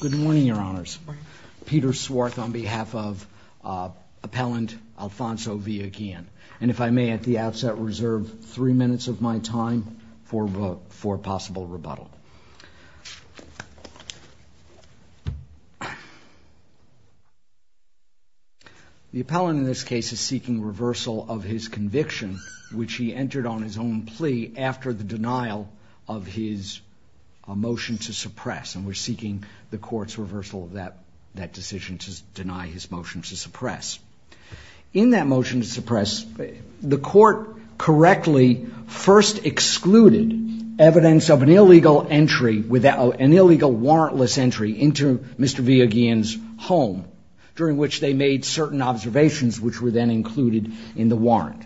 Good morning, your honors. Peter Swarth on behalf of appellant Alfonso Villa Guillen. And if I may at the outset reserve three minutes of my time for a possible rebuttal. The appellant in this case is seeking reversal of his conviction, which he entered on his own plea after the denial of his motion to suppress. And we're seeking the court's reversal of that decision to deny his motion to suppress. In that motion to suppress, the court correctly first excluded evidence of an illegal entry without an illegal warrantless entry into Mr. Villa Guillen's home. During which they made certain observations which were then included in the warrant.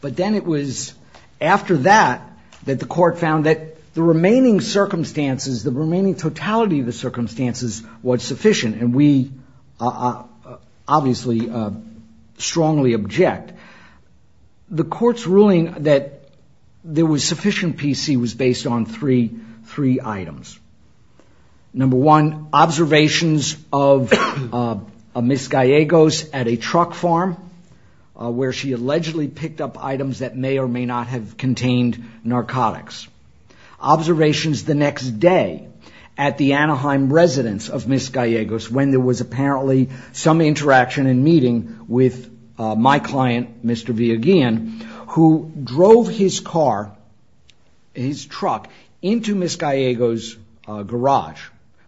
But then it was after that that the court found that the remaining circumstances, the remaining totality of the circumstances, was sufficient. And we obviously strongly object. The court's ruling that there was sufficient PC was based on three items. Number one, observations of Ms. Gallegos at a truck farm where she allegedly picked up items that may or may not have contained narcotics. Observations the next day at the Anaheim residence of Ms. Gallegos when there was apparently some interaction and meeting with my client, Mr. Villa Guillen, who drove his car, his truck, into Ms. Gallegos' garage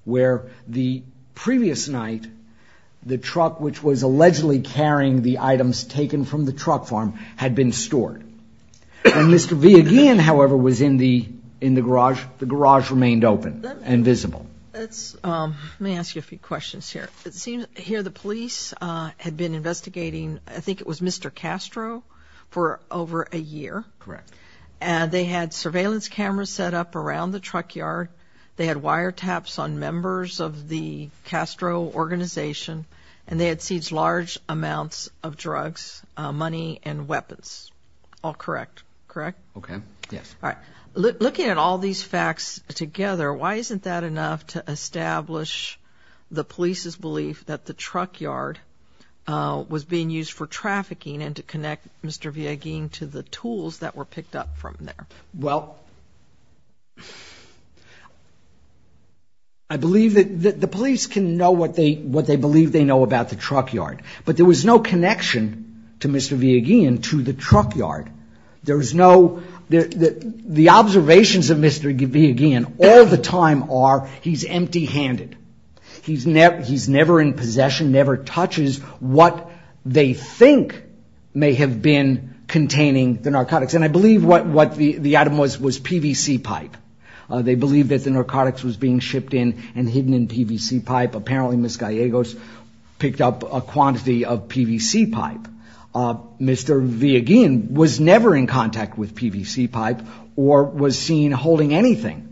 where the previous night the truck which was allegedly carrying the items taken from the truck farm had been stored. And Mr. Villa Guillen, however, was in the garage. The garage remained open and visible. Let me ask you a few questions here. It seems here the police had been investigating, I think it was Mr. Castro, for over a year. Correct. And they had surveillance cameras set up around the truck yard. They had wiretaps on members of the Castro organization. And they had seized large amounts of drugs, money, and weapons. All correct. Correct? Okay. Yes. All right. Looking at all these facts together, why isn't that enough to establish the police's belief that the truck yard was being used for trafficking and to connect Mr. Villa Guillen to the tools that were picked up from there? Well, I believe that the police can know what they believe they know about the truck yard. But there was no connection to Mr. Villa Guillen to the truck yard. The observations of Mr. Villa Guillen all the time are he's empty-handed. He's never in possession, never touches what they think may have been containing the narcotics. And I believe what the item was was PVC pipe. They believe that the narcotics was being shipped in and hidden in PVC pipe. Apparently Ms. Gallegos picked up a quantity of PVC pipe. Mr. Villa Guillen was never in contact with PVC pipe or was seen holding anything.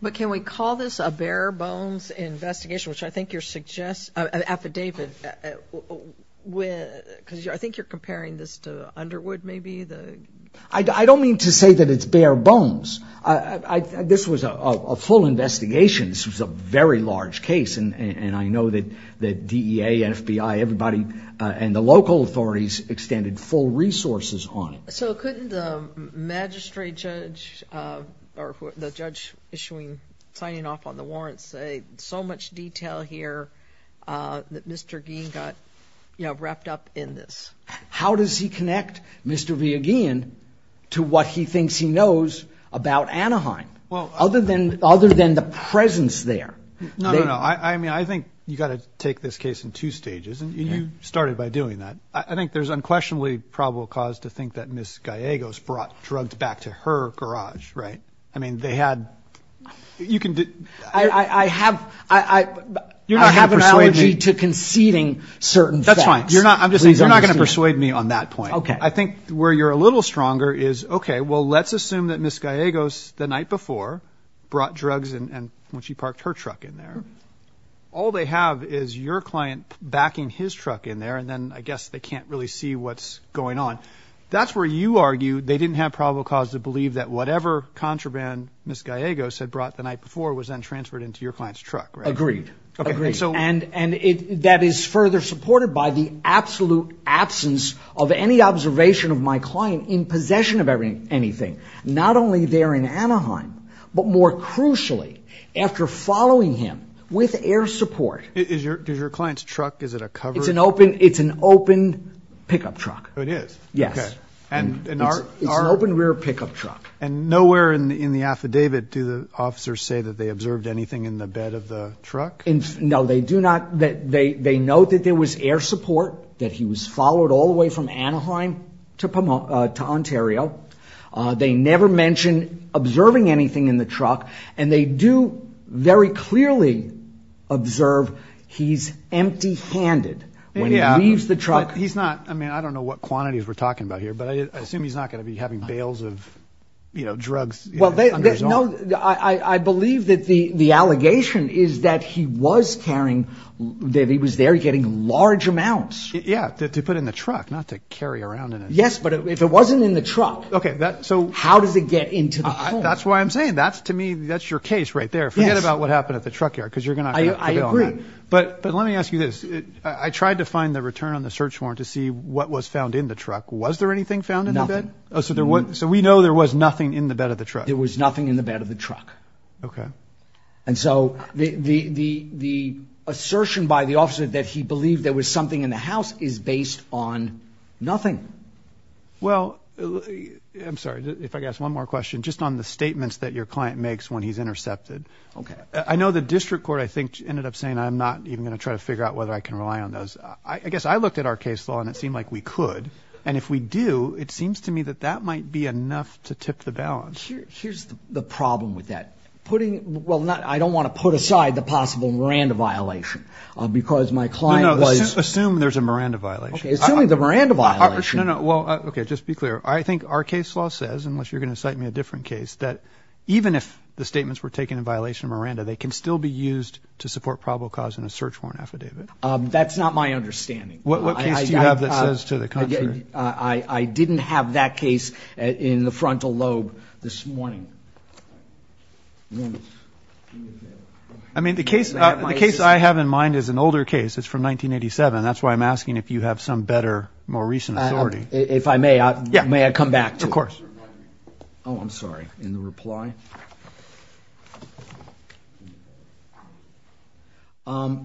But can we call this a bare-bones investigation, which I think you're suggesting, affidavit, because I think you're comparing this to Underwood maybe? I don't mean to say that it's bare bones. This was a full investigation. This was a very large case. And I know that DEA, FBI, everybody, and the local authorities extended full resources on it. So couldn't the magistrate judge or the judge signing off on the warrants say, so much detail here that Mr. Guillen got wrapped up in this? How does he connect Mr. Villa Guillen to what he thinks he knows about Anaheim other than the presence there? No, no, no. I mean, I think you've got to take this case in two stages, and you started by doing that. I think there's unquestionably probable cause to think that Ms. Gallegos brought drugs back to her garage, right? I mean, they had ‑‑ you can ‑‑ I have an allergy to conceding certain facts. That's fine. You're not going to persuade me on that point. I think where you're a little stronger is, okay, well, let's assume that Ms. Gallegos the night before brought drugs when she parked her truck in there. All they have is your client backing his truck in there, and then I guess they can't really see what's going on. That's where you argue they didn't have probable cause to believe that whatever contraband Ms. Gallegos had brought the night before was then transferred into your client's truck, right? Agreed. Agreed. And that is further supported by the absolute absence of any observation of my client in possession of anything. Not only there in Anaheim, but more crucially, after following him with air support. Is your client's truck, is it a covered? It's an open pickup truck. It is? Yes. Okay. It's an open rear pickup truck. And nowhere in the affidavit do the officers say that they observed anything in the bed of the truck? No, they do not. They note that there was air support, that he was followed all the way from Anaheim to Ontario. They never mention observing anything in the truck, and they do very clearly observe he's empty-handed when he leaves the truck. He's not, I mean, I don't know what quantities we're talking about here, but I assume he's not going to be having bails of drugs under his arm. No, I believe that the allegation is that he was carrying, that he was there getting large amounts. Yeah, to put in the truck, not to carry around in it. Yes, but if it wasn't in the truck, how does it get into the pool? That's why I'm saying, to me, that's your case right there. Forget about what happened at the truck yard, because you're going to have to prevail on that. I agree. But let me ask you this. I tried to find the return on the search warrant to see what was found in the truck. Was there anything found in the bed? Nothing. So we know there was nothing in the bed of the truck? There was nothing in the bed of the truck. Okay. And so the assertion by the officer that he believed there was something in the house is based on nothing. Well, I'm sorry, if I could ask one more question, just on the statements that your client makes when he's intercepted. Okay. I know the district court, I think, ended up saying, I'm not even going to try to figure out whether I can rely on those. I guess I looked at our case law, and it seemed like we could. And if we do, it seems to me that that might be enough to tip the balance. Here's the problem with that. Putting – well, I don't want to put aside the possible Miranda violation, because my client was – No, no. Assume there's a Miranda violation. Okay. Assuming the Miranda violation – No, no. Well, okay. Just be clear. I think our case law says, unless you're going to cite me a different case, that even if the statements were taken in violation of Miranda, they can still be used to support probable cause in a search warrant affidavit. That's not my understanding. What case do you have that says to the contrary? I didn't have that case in the frontal lobe this morning. I mean, the case I have in mind is an older case. It's from 1987. That's why I'm asking if you have some better, more recent authority. If I may, may I come back to it? Of course. Oh, I'm sorry. In the reply. Okay.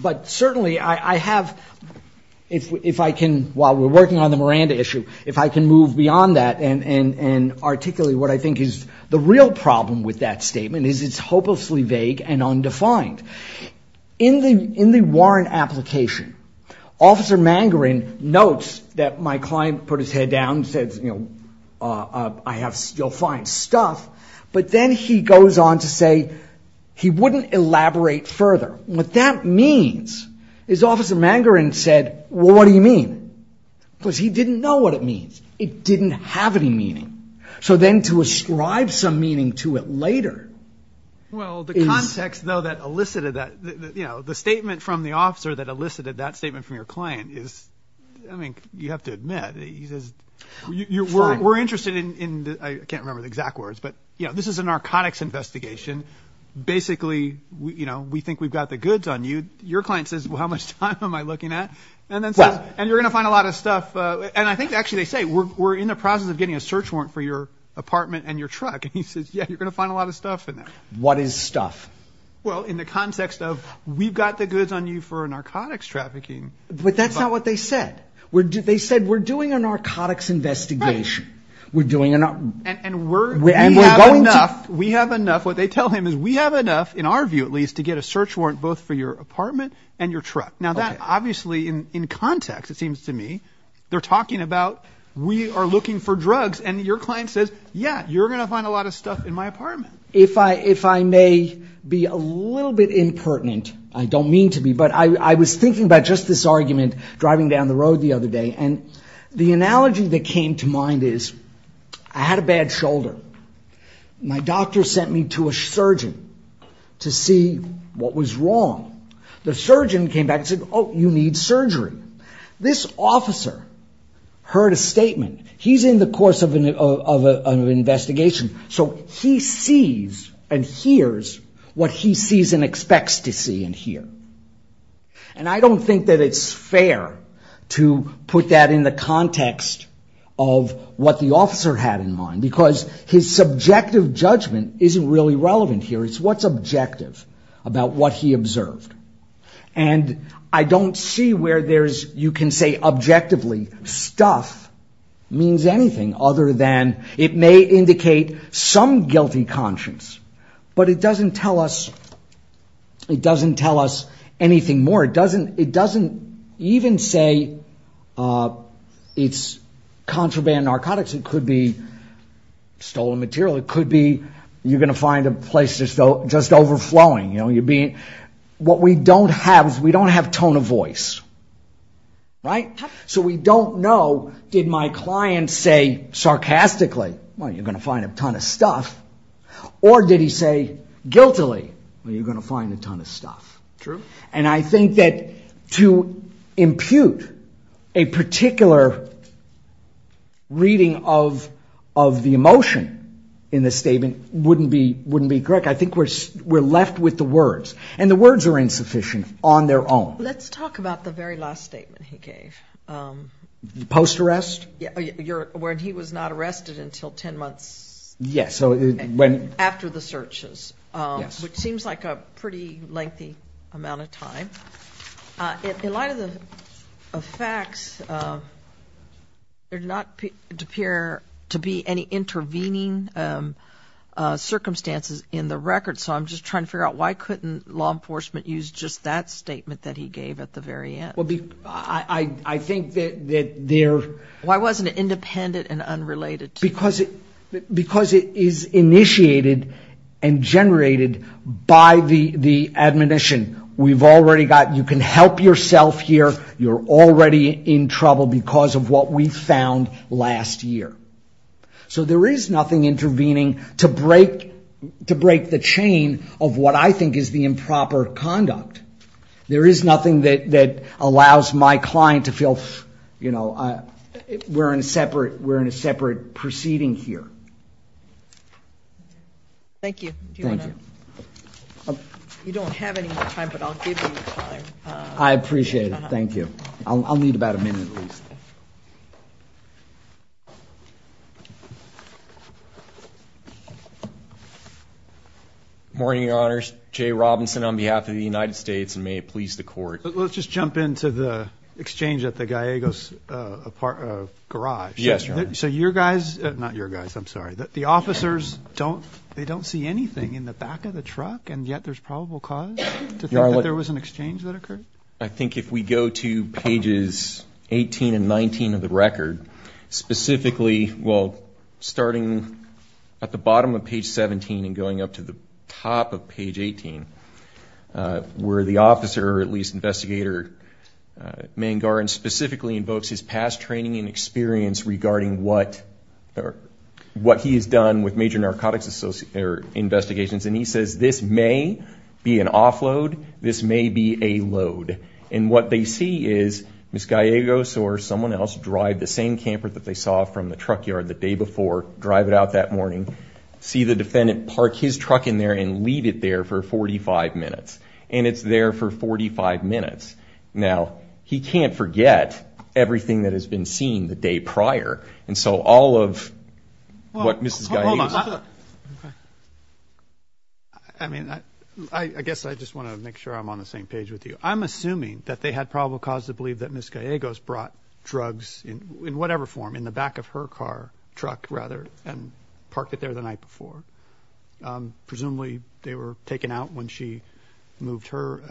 But certainly, I have – if I can, while we're working on the Miranda issue, if I can move beyond that and articulate what I think is the real problem with that statement is it's hopelessly vague and undefined. In the warrant application, Officer Mangarin notes that my client put his head down and said, you know, I have – you'll find stuff. But then he goes on to say he wouldn't elaborate further. What that means is Officer Mangarin said, well, what do you mean? Because he didn't know what it means. It didn't have any meaning. So then to ascribe some meaning to it later is – Well, the context, though, that elicited that, you know, the statement from the officer that elicited that statement from your client is, I mean, you have to admit, he says, we're interested in – I can't remember the exact words, but, you know, this is a narcotics investigation. Basically, you know, we think we've got the goods on you. Your client says, well, how much time am I looking at? And then says, and you're going to find a lot of stuff. And I think actually they say, we're in the process of getting a search warrant for your apartment and your truck. And he says, yeah, you're going to find a lot of stuff in there. What is stuff? Well, in the context of we've got the goods on you for narcotics trafficking. But that's not what they said. They said we're doing a narcotics investigation. Right. We're doing a – And we're – And we're going to – We have enough. What they tell him is we have enough, in our view at least, to get a search warrant both for your apartment and your truck. Now, that obviously in context, it seems to me, they're talking about we are looking for drugs. And your client says, yeah, you're going to find a lot of stuff in my apartment. If I may be a little bit impertinent. I don't mean to be. But I was thinking about just this argument driving down the road the other day. And the analogy that came to mind is I had a bad shoulder. My doctor sent me to a surgeon to see what was wrong. The surgeon came back and said, oh, you need surgery. This officer heard a statement. He's in the course of an investigation. So he sees and hears what he sees and expects to see and hear. And I don't think that it's fair to put that in the context of what the officer had in mind. Because his subjective judgment isn't really relevant here. It's what's objective about what he observed. And I don't see where you can say objectively stuff means anything other than it may indicate some guilty conscience. But it doesn't tell us anything more. It doesn't even say it's contraband narcotics. It could be stolen material. It could be you're going to find a place just overflowing. What we don't have is we don't have tone of voice. So we don't know did my client say sarcastically, well, you're going to find a ton of stuff. Or did he say guiltily, well, you're going to find a ton of stuff. And I think that to impute a particular reading of the emotion in the statement wouldn't be correct. I think we're left with the words. And the words are insufficient on their own. Let's talk about the very last statement he gave. Post-arrest? When he was not arrested until ten months after the searches, which seems like a pretty lengthy amount of time. In light of the facts, there did not appear to be any intervening circumstances in the record. So I'm just trying to figure out why couldn't law enforcement use just that statement that he gave at the very end? Well, I think that there. Why wasn't it independent and unrelated? Because it is initiated and generated by the admonition. We've already got, you can help yourself here. You're already in trouble because of what we found last year. So there is nothing intervening to break the chain of what I think is the improper conduct. There is nothing that allows my client to feel, you know, we're in a separate proceeding here. Thank you. Thank you. You don't have any time, but I'll give you time. I appreciate it. Thank you. I'll need about a minute at least. Morning, Your Honors. Jay Robinson on behalf of the United States, and may it please the Court. Let's just jump into the exchange at the Gallegos garage. Yes, Your Honor. So your guys, not your guys, I'm sorry. The officers, they don't see anything in the back of the truck, and yet there's probable cause to think that there was an exchange that occurred? I think if we go to pages 18 and 19 of the record, specifically, well, starting at the bottom of page 17 and going up to the top of page 18, where the officer, or at least investigator, specifically invokes his past training and experience regarding what he has done with major narcotics investigations. And he says, this may be an offload, this may be a load. And what they see is Ms. Gallegos or someone else drive the same camper that they saw from the truck yard the day before, drive it out that morning, see the defendant, park his truck in there, and leave it there for 45 minutes. And it's there for 45 minutes. Now, he can't forget everything that has been seen the day prior. And so all of what Ms. Gallegos took. I mean, I guess I just want to make sure I'm on the same page with you. I'm assuming that they had probable cause to believe that Ms. Gallegos brought drugs, in whatever form, in the back of her car, truck rather, and parked it there the night before. Presumably they were taken out when she moved her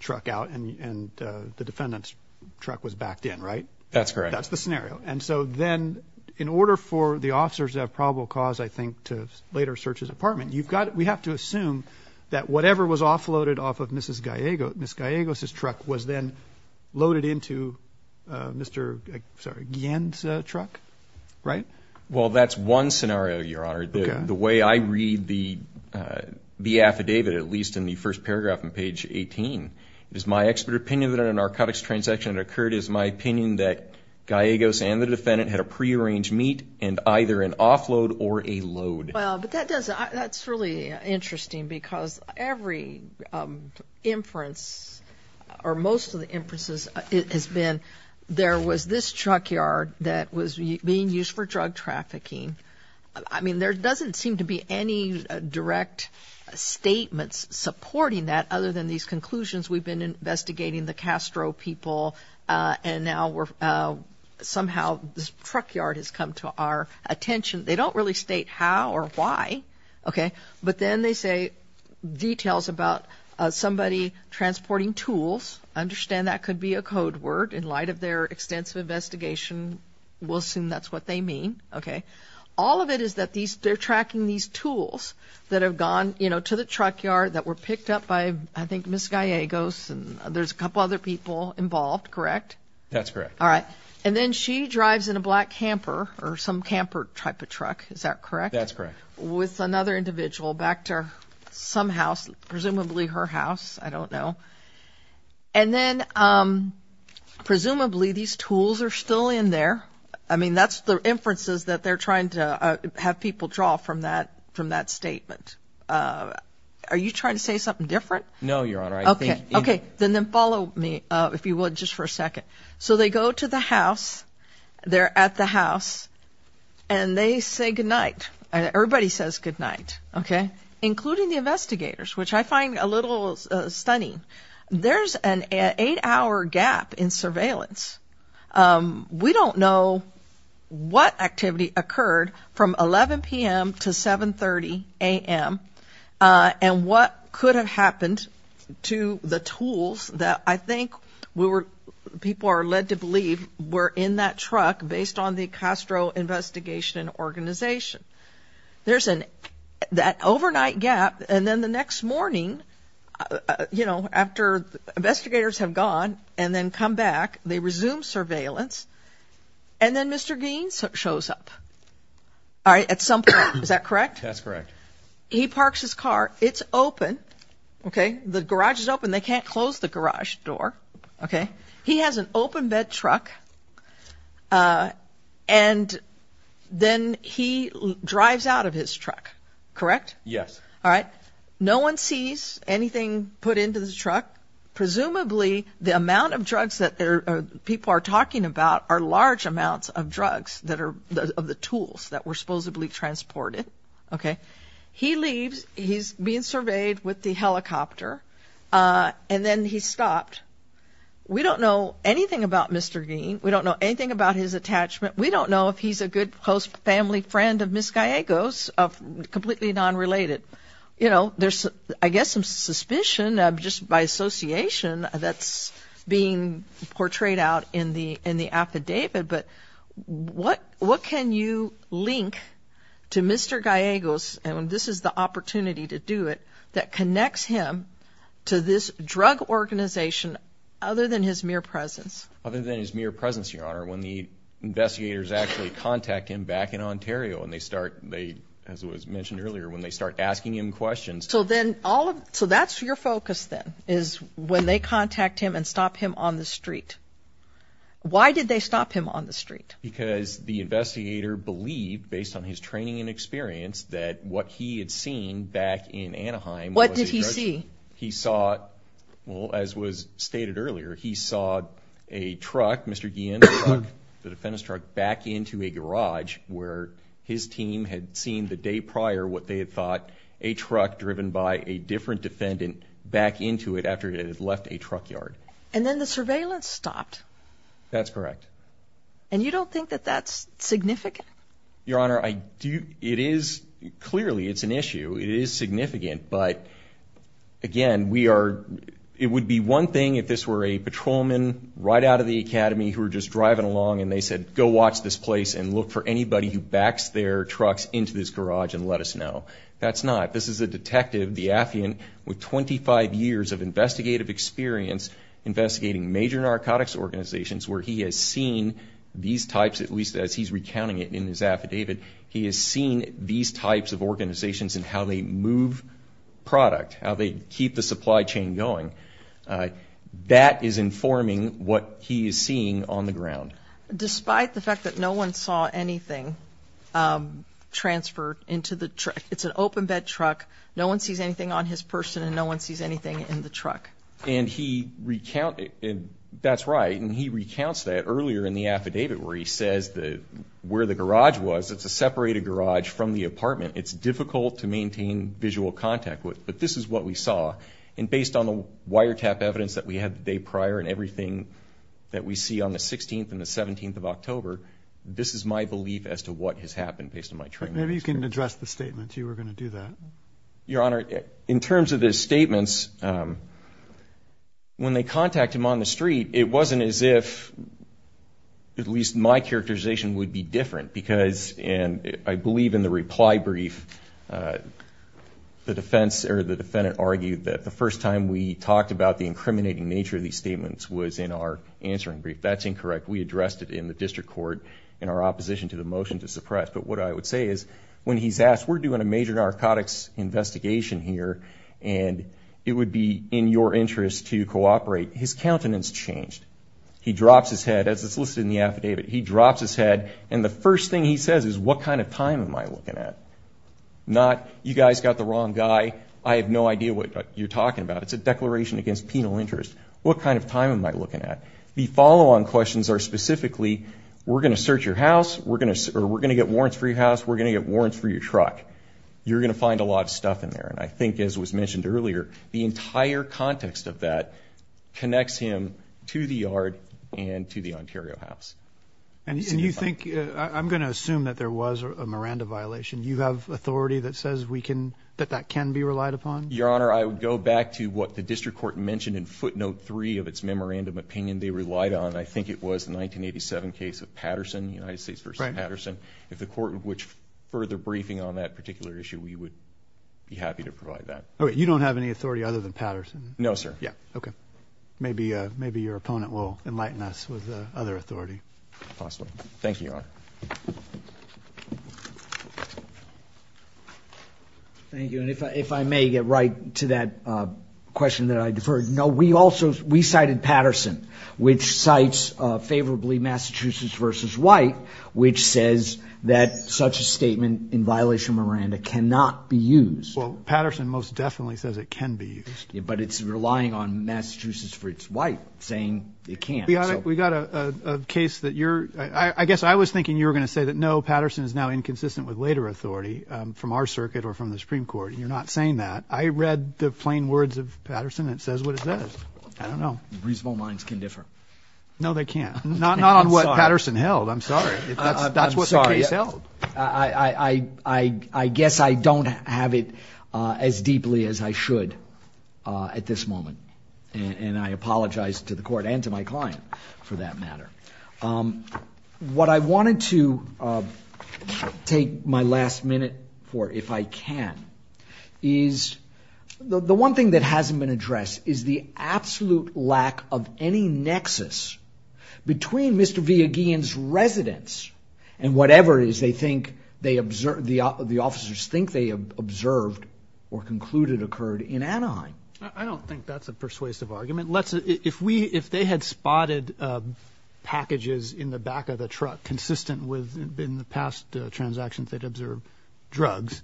truck out and the defendant's truck was backed in, right? That's correct. That's the scenario. And so then, in order for the officers to have probable cause, I think, to later search his apartment, we have to assume that whatever was offloaded off of Ms. Gallegos' truck was then loaded into Mr. Guillen's truck, right? Well, that's one scenario, Your Honor. The way I read the affidavit, at least in the first paragraph on page 18, it is my expert opinion that in a narcotics transaction that occurred, it is my opinion that Gallegos and the defendant had a prearranged meet and either an offload or a load. Well, but that's really interesting because every inference, or most of the inferences, has been there was this truck yard that was being used for drug trafficking. I mean, there doesn't seem to be any direct statements supporting that other than these conclusions. We've been investigating the Castro people, and now somehow this truck yard has come to our attention. They don't really state how or why, okay? But then they say details about somebody transporting tools. I understand that could be a code word in light of their extensive investigation. We'll assume that's what they mean, okay? All of it is that they're tracking these tools that have gone, you know, to the truck yard that were picked up by, I think, Ms. Gallegos and there's a couple other people involved, correct? That's correct. All right. And then she drives in a black camper or some camper type of truck. Is that correct? That's correct. With another individual back to some house, presumably her house. I don't know. And then presumably these tools are still in there. I mean, that's the inferences that they're trying to have people draw from that statement. Are you trying to say something different? No, Your Honor. Okay. Then follow me, if you would, just for a second. So they go to the house, they're at the house, and they say goodnight. Everybody says goodnight, okay, including the investigators, which I find a little stunning. There's an eight-hour gap in surveillance. We don't know what activity occurred from 11 p.m. to 7.30 a.m. and what could have happened to the tools that I think people are led to believe were in that truck based on the Castro investigation and organization. There's that overnight gap, and then the next morning, you know, after investigators have gone and then come back, they resume surveillance, and then Mr. Gein shows up at some point. Is that correct? That's correct. He parks his car. It's open, okay? The garage is open. They can't close the garage door, okay? He has an open bed truck, and then he drives out of his truck, correct? Yes. All right. No one sees anything put into the truck. Presumably the amount of drugs that people are talking about are large amounts of drugs that are of the tools that were supposedly transported, okay? He leaves. He's being surveyed with the helicopter, and then he stopped. We don't know anything about Mr. Gein. We don't know anything about his attachment. We don't know if he's a good close family friend of Ms. Gallegos, completely non-related. You know, there's I guess some suspicion just by association that's being portrayed out in the affidavit, but what can you link to Mr. Gallegos, and this is the opportunity to do it, that connects him to this drug organization other than his mere presence? Other than his mere presence, Your Honor, when the investigators actually contact him back in Ontario, and they start, as was mentioned earlier, when they start asking him questions. So that's your focus then is when they contact him and stop him on the street. Why did they stop him on the street? Because the investigator believed, based on his training and experience, that what he had seen back in Anaheim. What did he see? He saw, well, as was stated earlier, he saw a truck, Mr. Gein's truck, the defendant's truck back into a garage where his team had seen the day prior what they had thought, a truck driven by a different defendant back into it after it had left a truck yard. And then the surveillance stopped. That's correct. And you don't think that that's significant? Your Honor, it is. Clearly it's an issue. It is significant. But, again, it would be one thing if this were a patrolman right out of the academy who were just driving along and they said, go watch this place and look for anybody who backs their trucks into this garage and let us know. That's not. This is a detective, the affiant, with 25 years of investigative experience investigating major narcotics organizations where he has seen these types, at least as he's recounting it in his affidavit, he has seen these types of organizations and how they move product, how they keep the supply chain going. That is informing what he is seeing on the ground. Despite the fact that no one saw anything transferred into the truck, it's an open bed truck, no one sees anything on his person and no one sees anything in the truck. And he recounted, that's right, and he recounts that earlier in the affidavit where he says where the garage was, it's a separated garage from the apartment. It's difficult to maintain visual contact with, but this is what we saw. And based on the wiretap evidence that we had the day prior and everything that we see on the 16th and the 17th of October, this is my belief as to what has happened based on my training. Maybe you can address the statements. You were going to do that. Your Honor, in terms of his statements, when they contact him on the street, it wasn't as if at least my characterization would be different because I believe in the reply brief the defendant argued that the first time we talked about the incriminating nature of these statements was in our answering brief. That's incorrect. We addressed it in the district court in our opposition to the motion to suppress. But what I would say is when he's asked, we're doing a major narcotics investigation here and it would be in your interest to cooperate, his countenance changed. He drops his head, as it's listed in the affidavit. He drops his head, and the first thing he says is, what kind of time am I looking at? Not, you guys got the wrong guy. I have no idea what you're talking about. It's a declaration against penal interest. What kind of time am I looking at? The follow-on questions are specifically, we're going to search your house. We're going to get warrants for your house. We're going to get warrants for your truck. You're going to find a lot of stuff in there. And I think, as was mentioned earlier, the entire context of that connects him to the yard and to the Ontario house. And you think, I'm going to assume that there was a Miranda violation. Do you have authority that says we can, that that can be relied upon? Your Honor, I would go back to what the district court mentioned in footnote 3 of its memorandum opinion they relied on. I think it was the 1987 case of Patterson, United States v. Patterson. If the court would further briefing on that particular issue, we would be happy to provide that. You don't have any authority other than Patterson? No, sir. Okay. Maybe your opponent will enlighten us with other authority. Possibly. Thank you, Your Honor. Thank you. And if I may get right to that question that I deferred, no, we cited Patterson, which cites favorably Massachusetts v. White, which says that such a statement in violation of Miranda cannot be used. Well, Patterson most definitely says it can be used. But it's relying on Massachusetts v. White saying it can't. Your Honor, we got a case that you're, I guess I was thinking you were going to say that, no, Patterson is now inconsistent with later authority from our circuit or from the Supreme Court. You're not saying that. I read the plain words of Patterson. It says what it says. I don't know. Reasonable minds can differ. No, they can't. Not on what Patterson held. I'm sorry. That's what the case held. I guess I don't have it as deeply as I should at this moment. And I apologize to the Court and to my client for that matter. What I wanted to take my last minute for, if I can, is the one thing that hasn't been addressed is the absolute lack of any nexus between Mr. Villagin's residence and whatever it is they think, the officers think they observed or concluded occurred in Anaheim. I don't think that's a persuasive argument. If they had spotted packages in the back of the truck consistent with, in the past transactions, they'd observed drugs,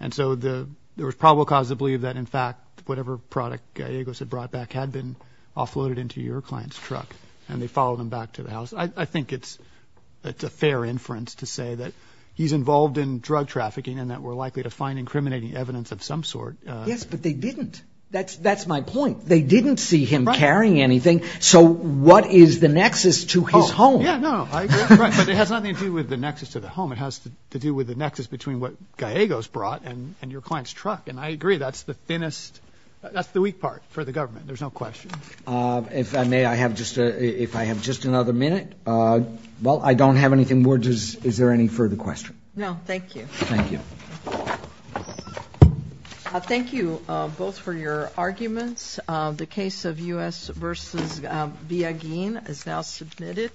and so there was probable cause to believe that, in fact, whatever product Gallegos had brought back had been offloaded into your client's truck and they followed him back to the house. I think it's a fair inference to say that he's involved in drug trafficking and that we're likely to find incriminating evidence of some sort. Yes, but they didn't. That's my point. They didn't see him carrying anything. So what is the nexus to his home? Yeah, no, I agree. But it has nothing to do with the nexus to the home. It has to do with the nexus between what Gallegos brought and your client's truck. And I agree, that's the thinnest, that's the weak part for the government. There's no question. If I may, I have just another minute. Well, I don't have anything more. Is there any further questions? No, thank you. Thank you. Thank you both for your arguments. The case of U.S. v. Biagin is now submitted.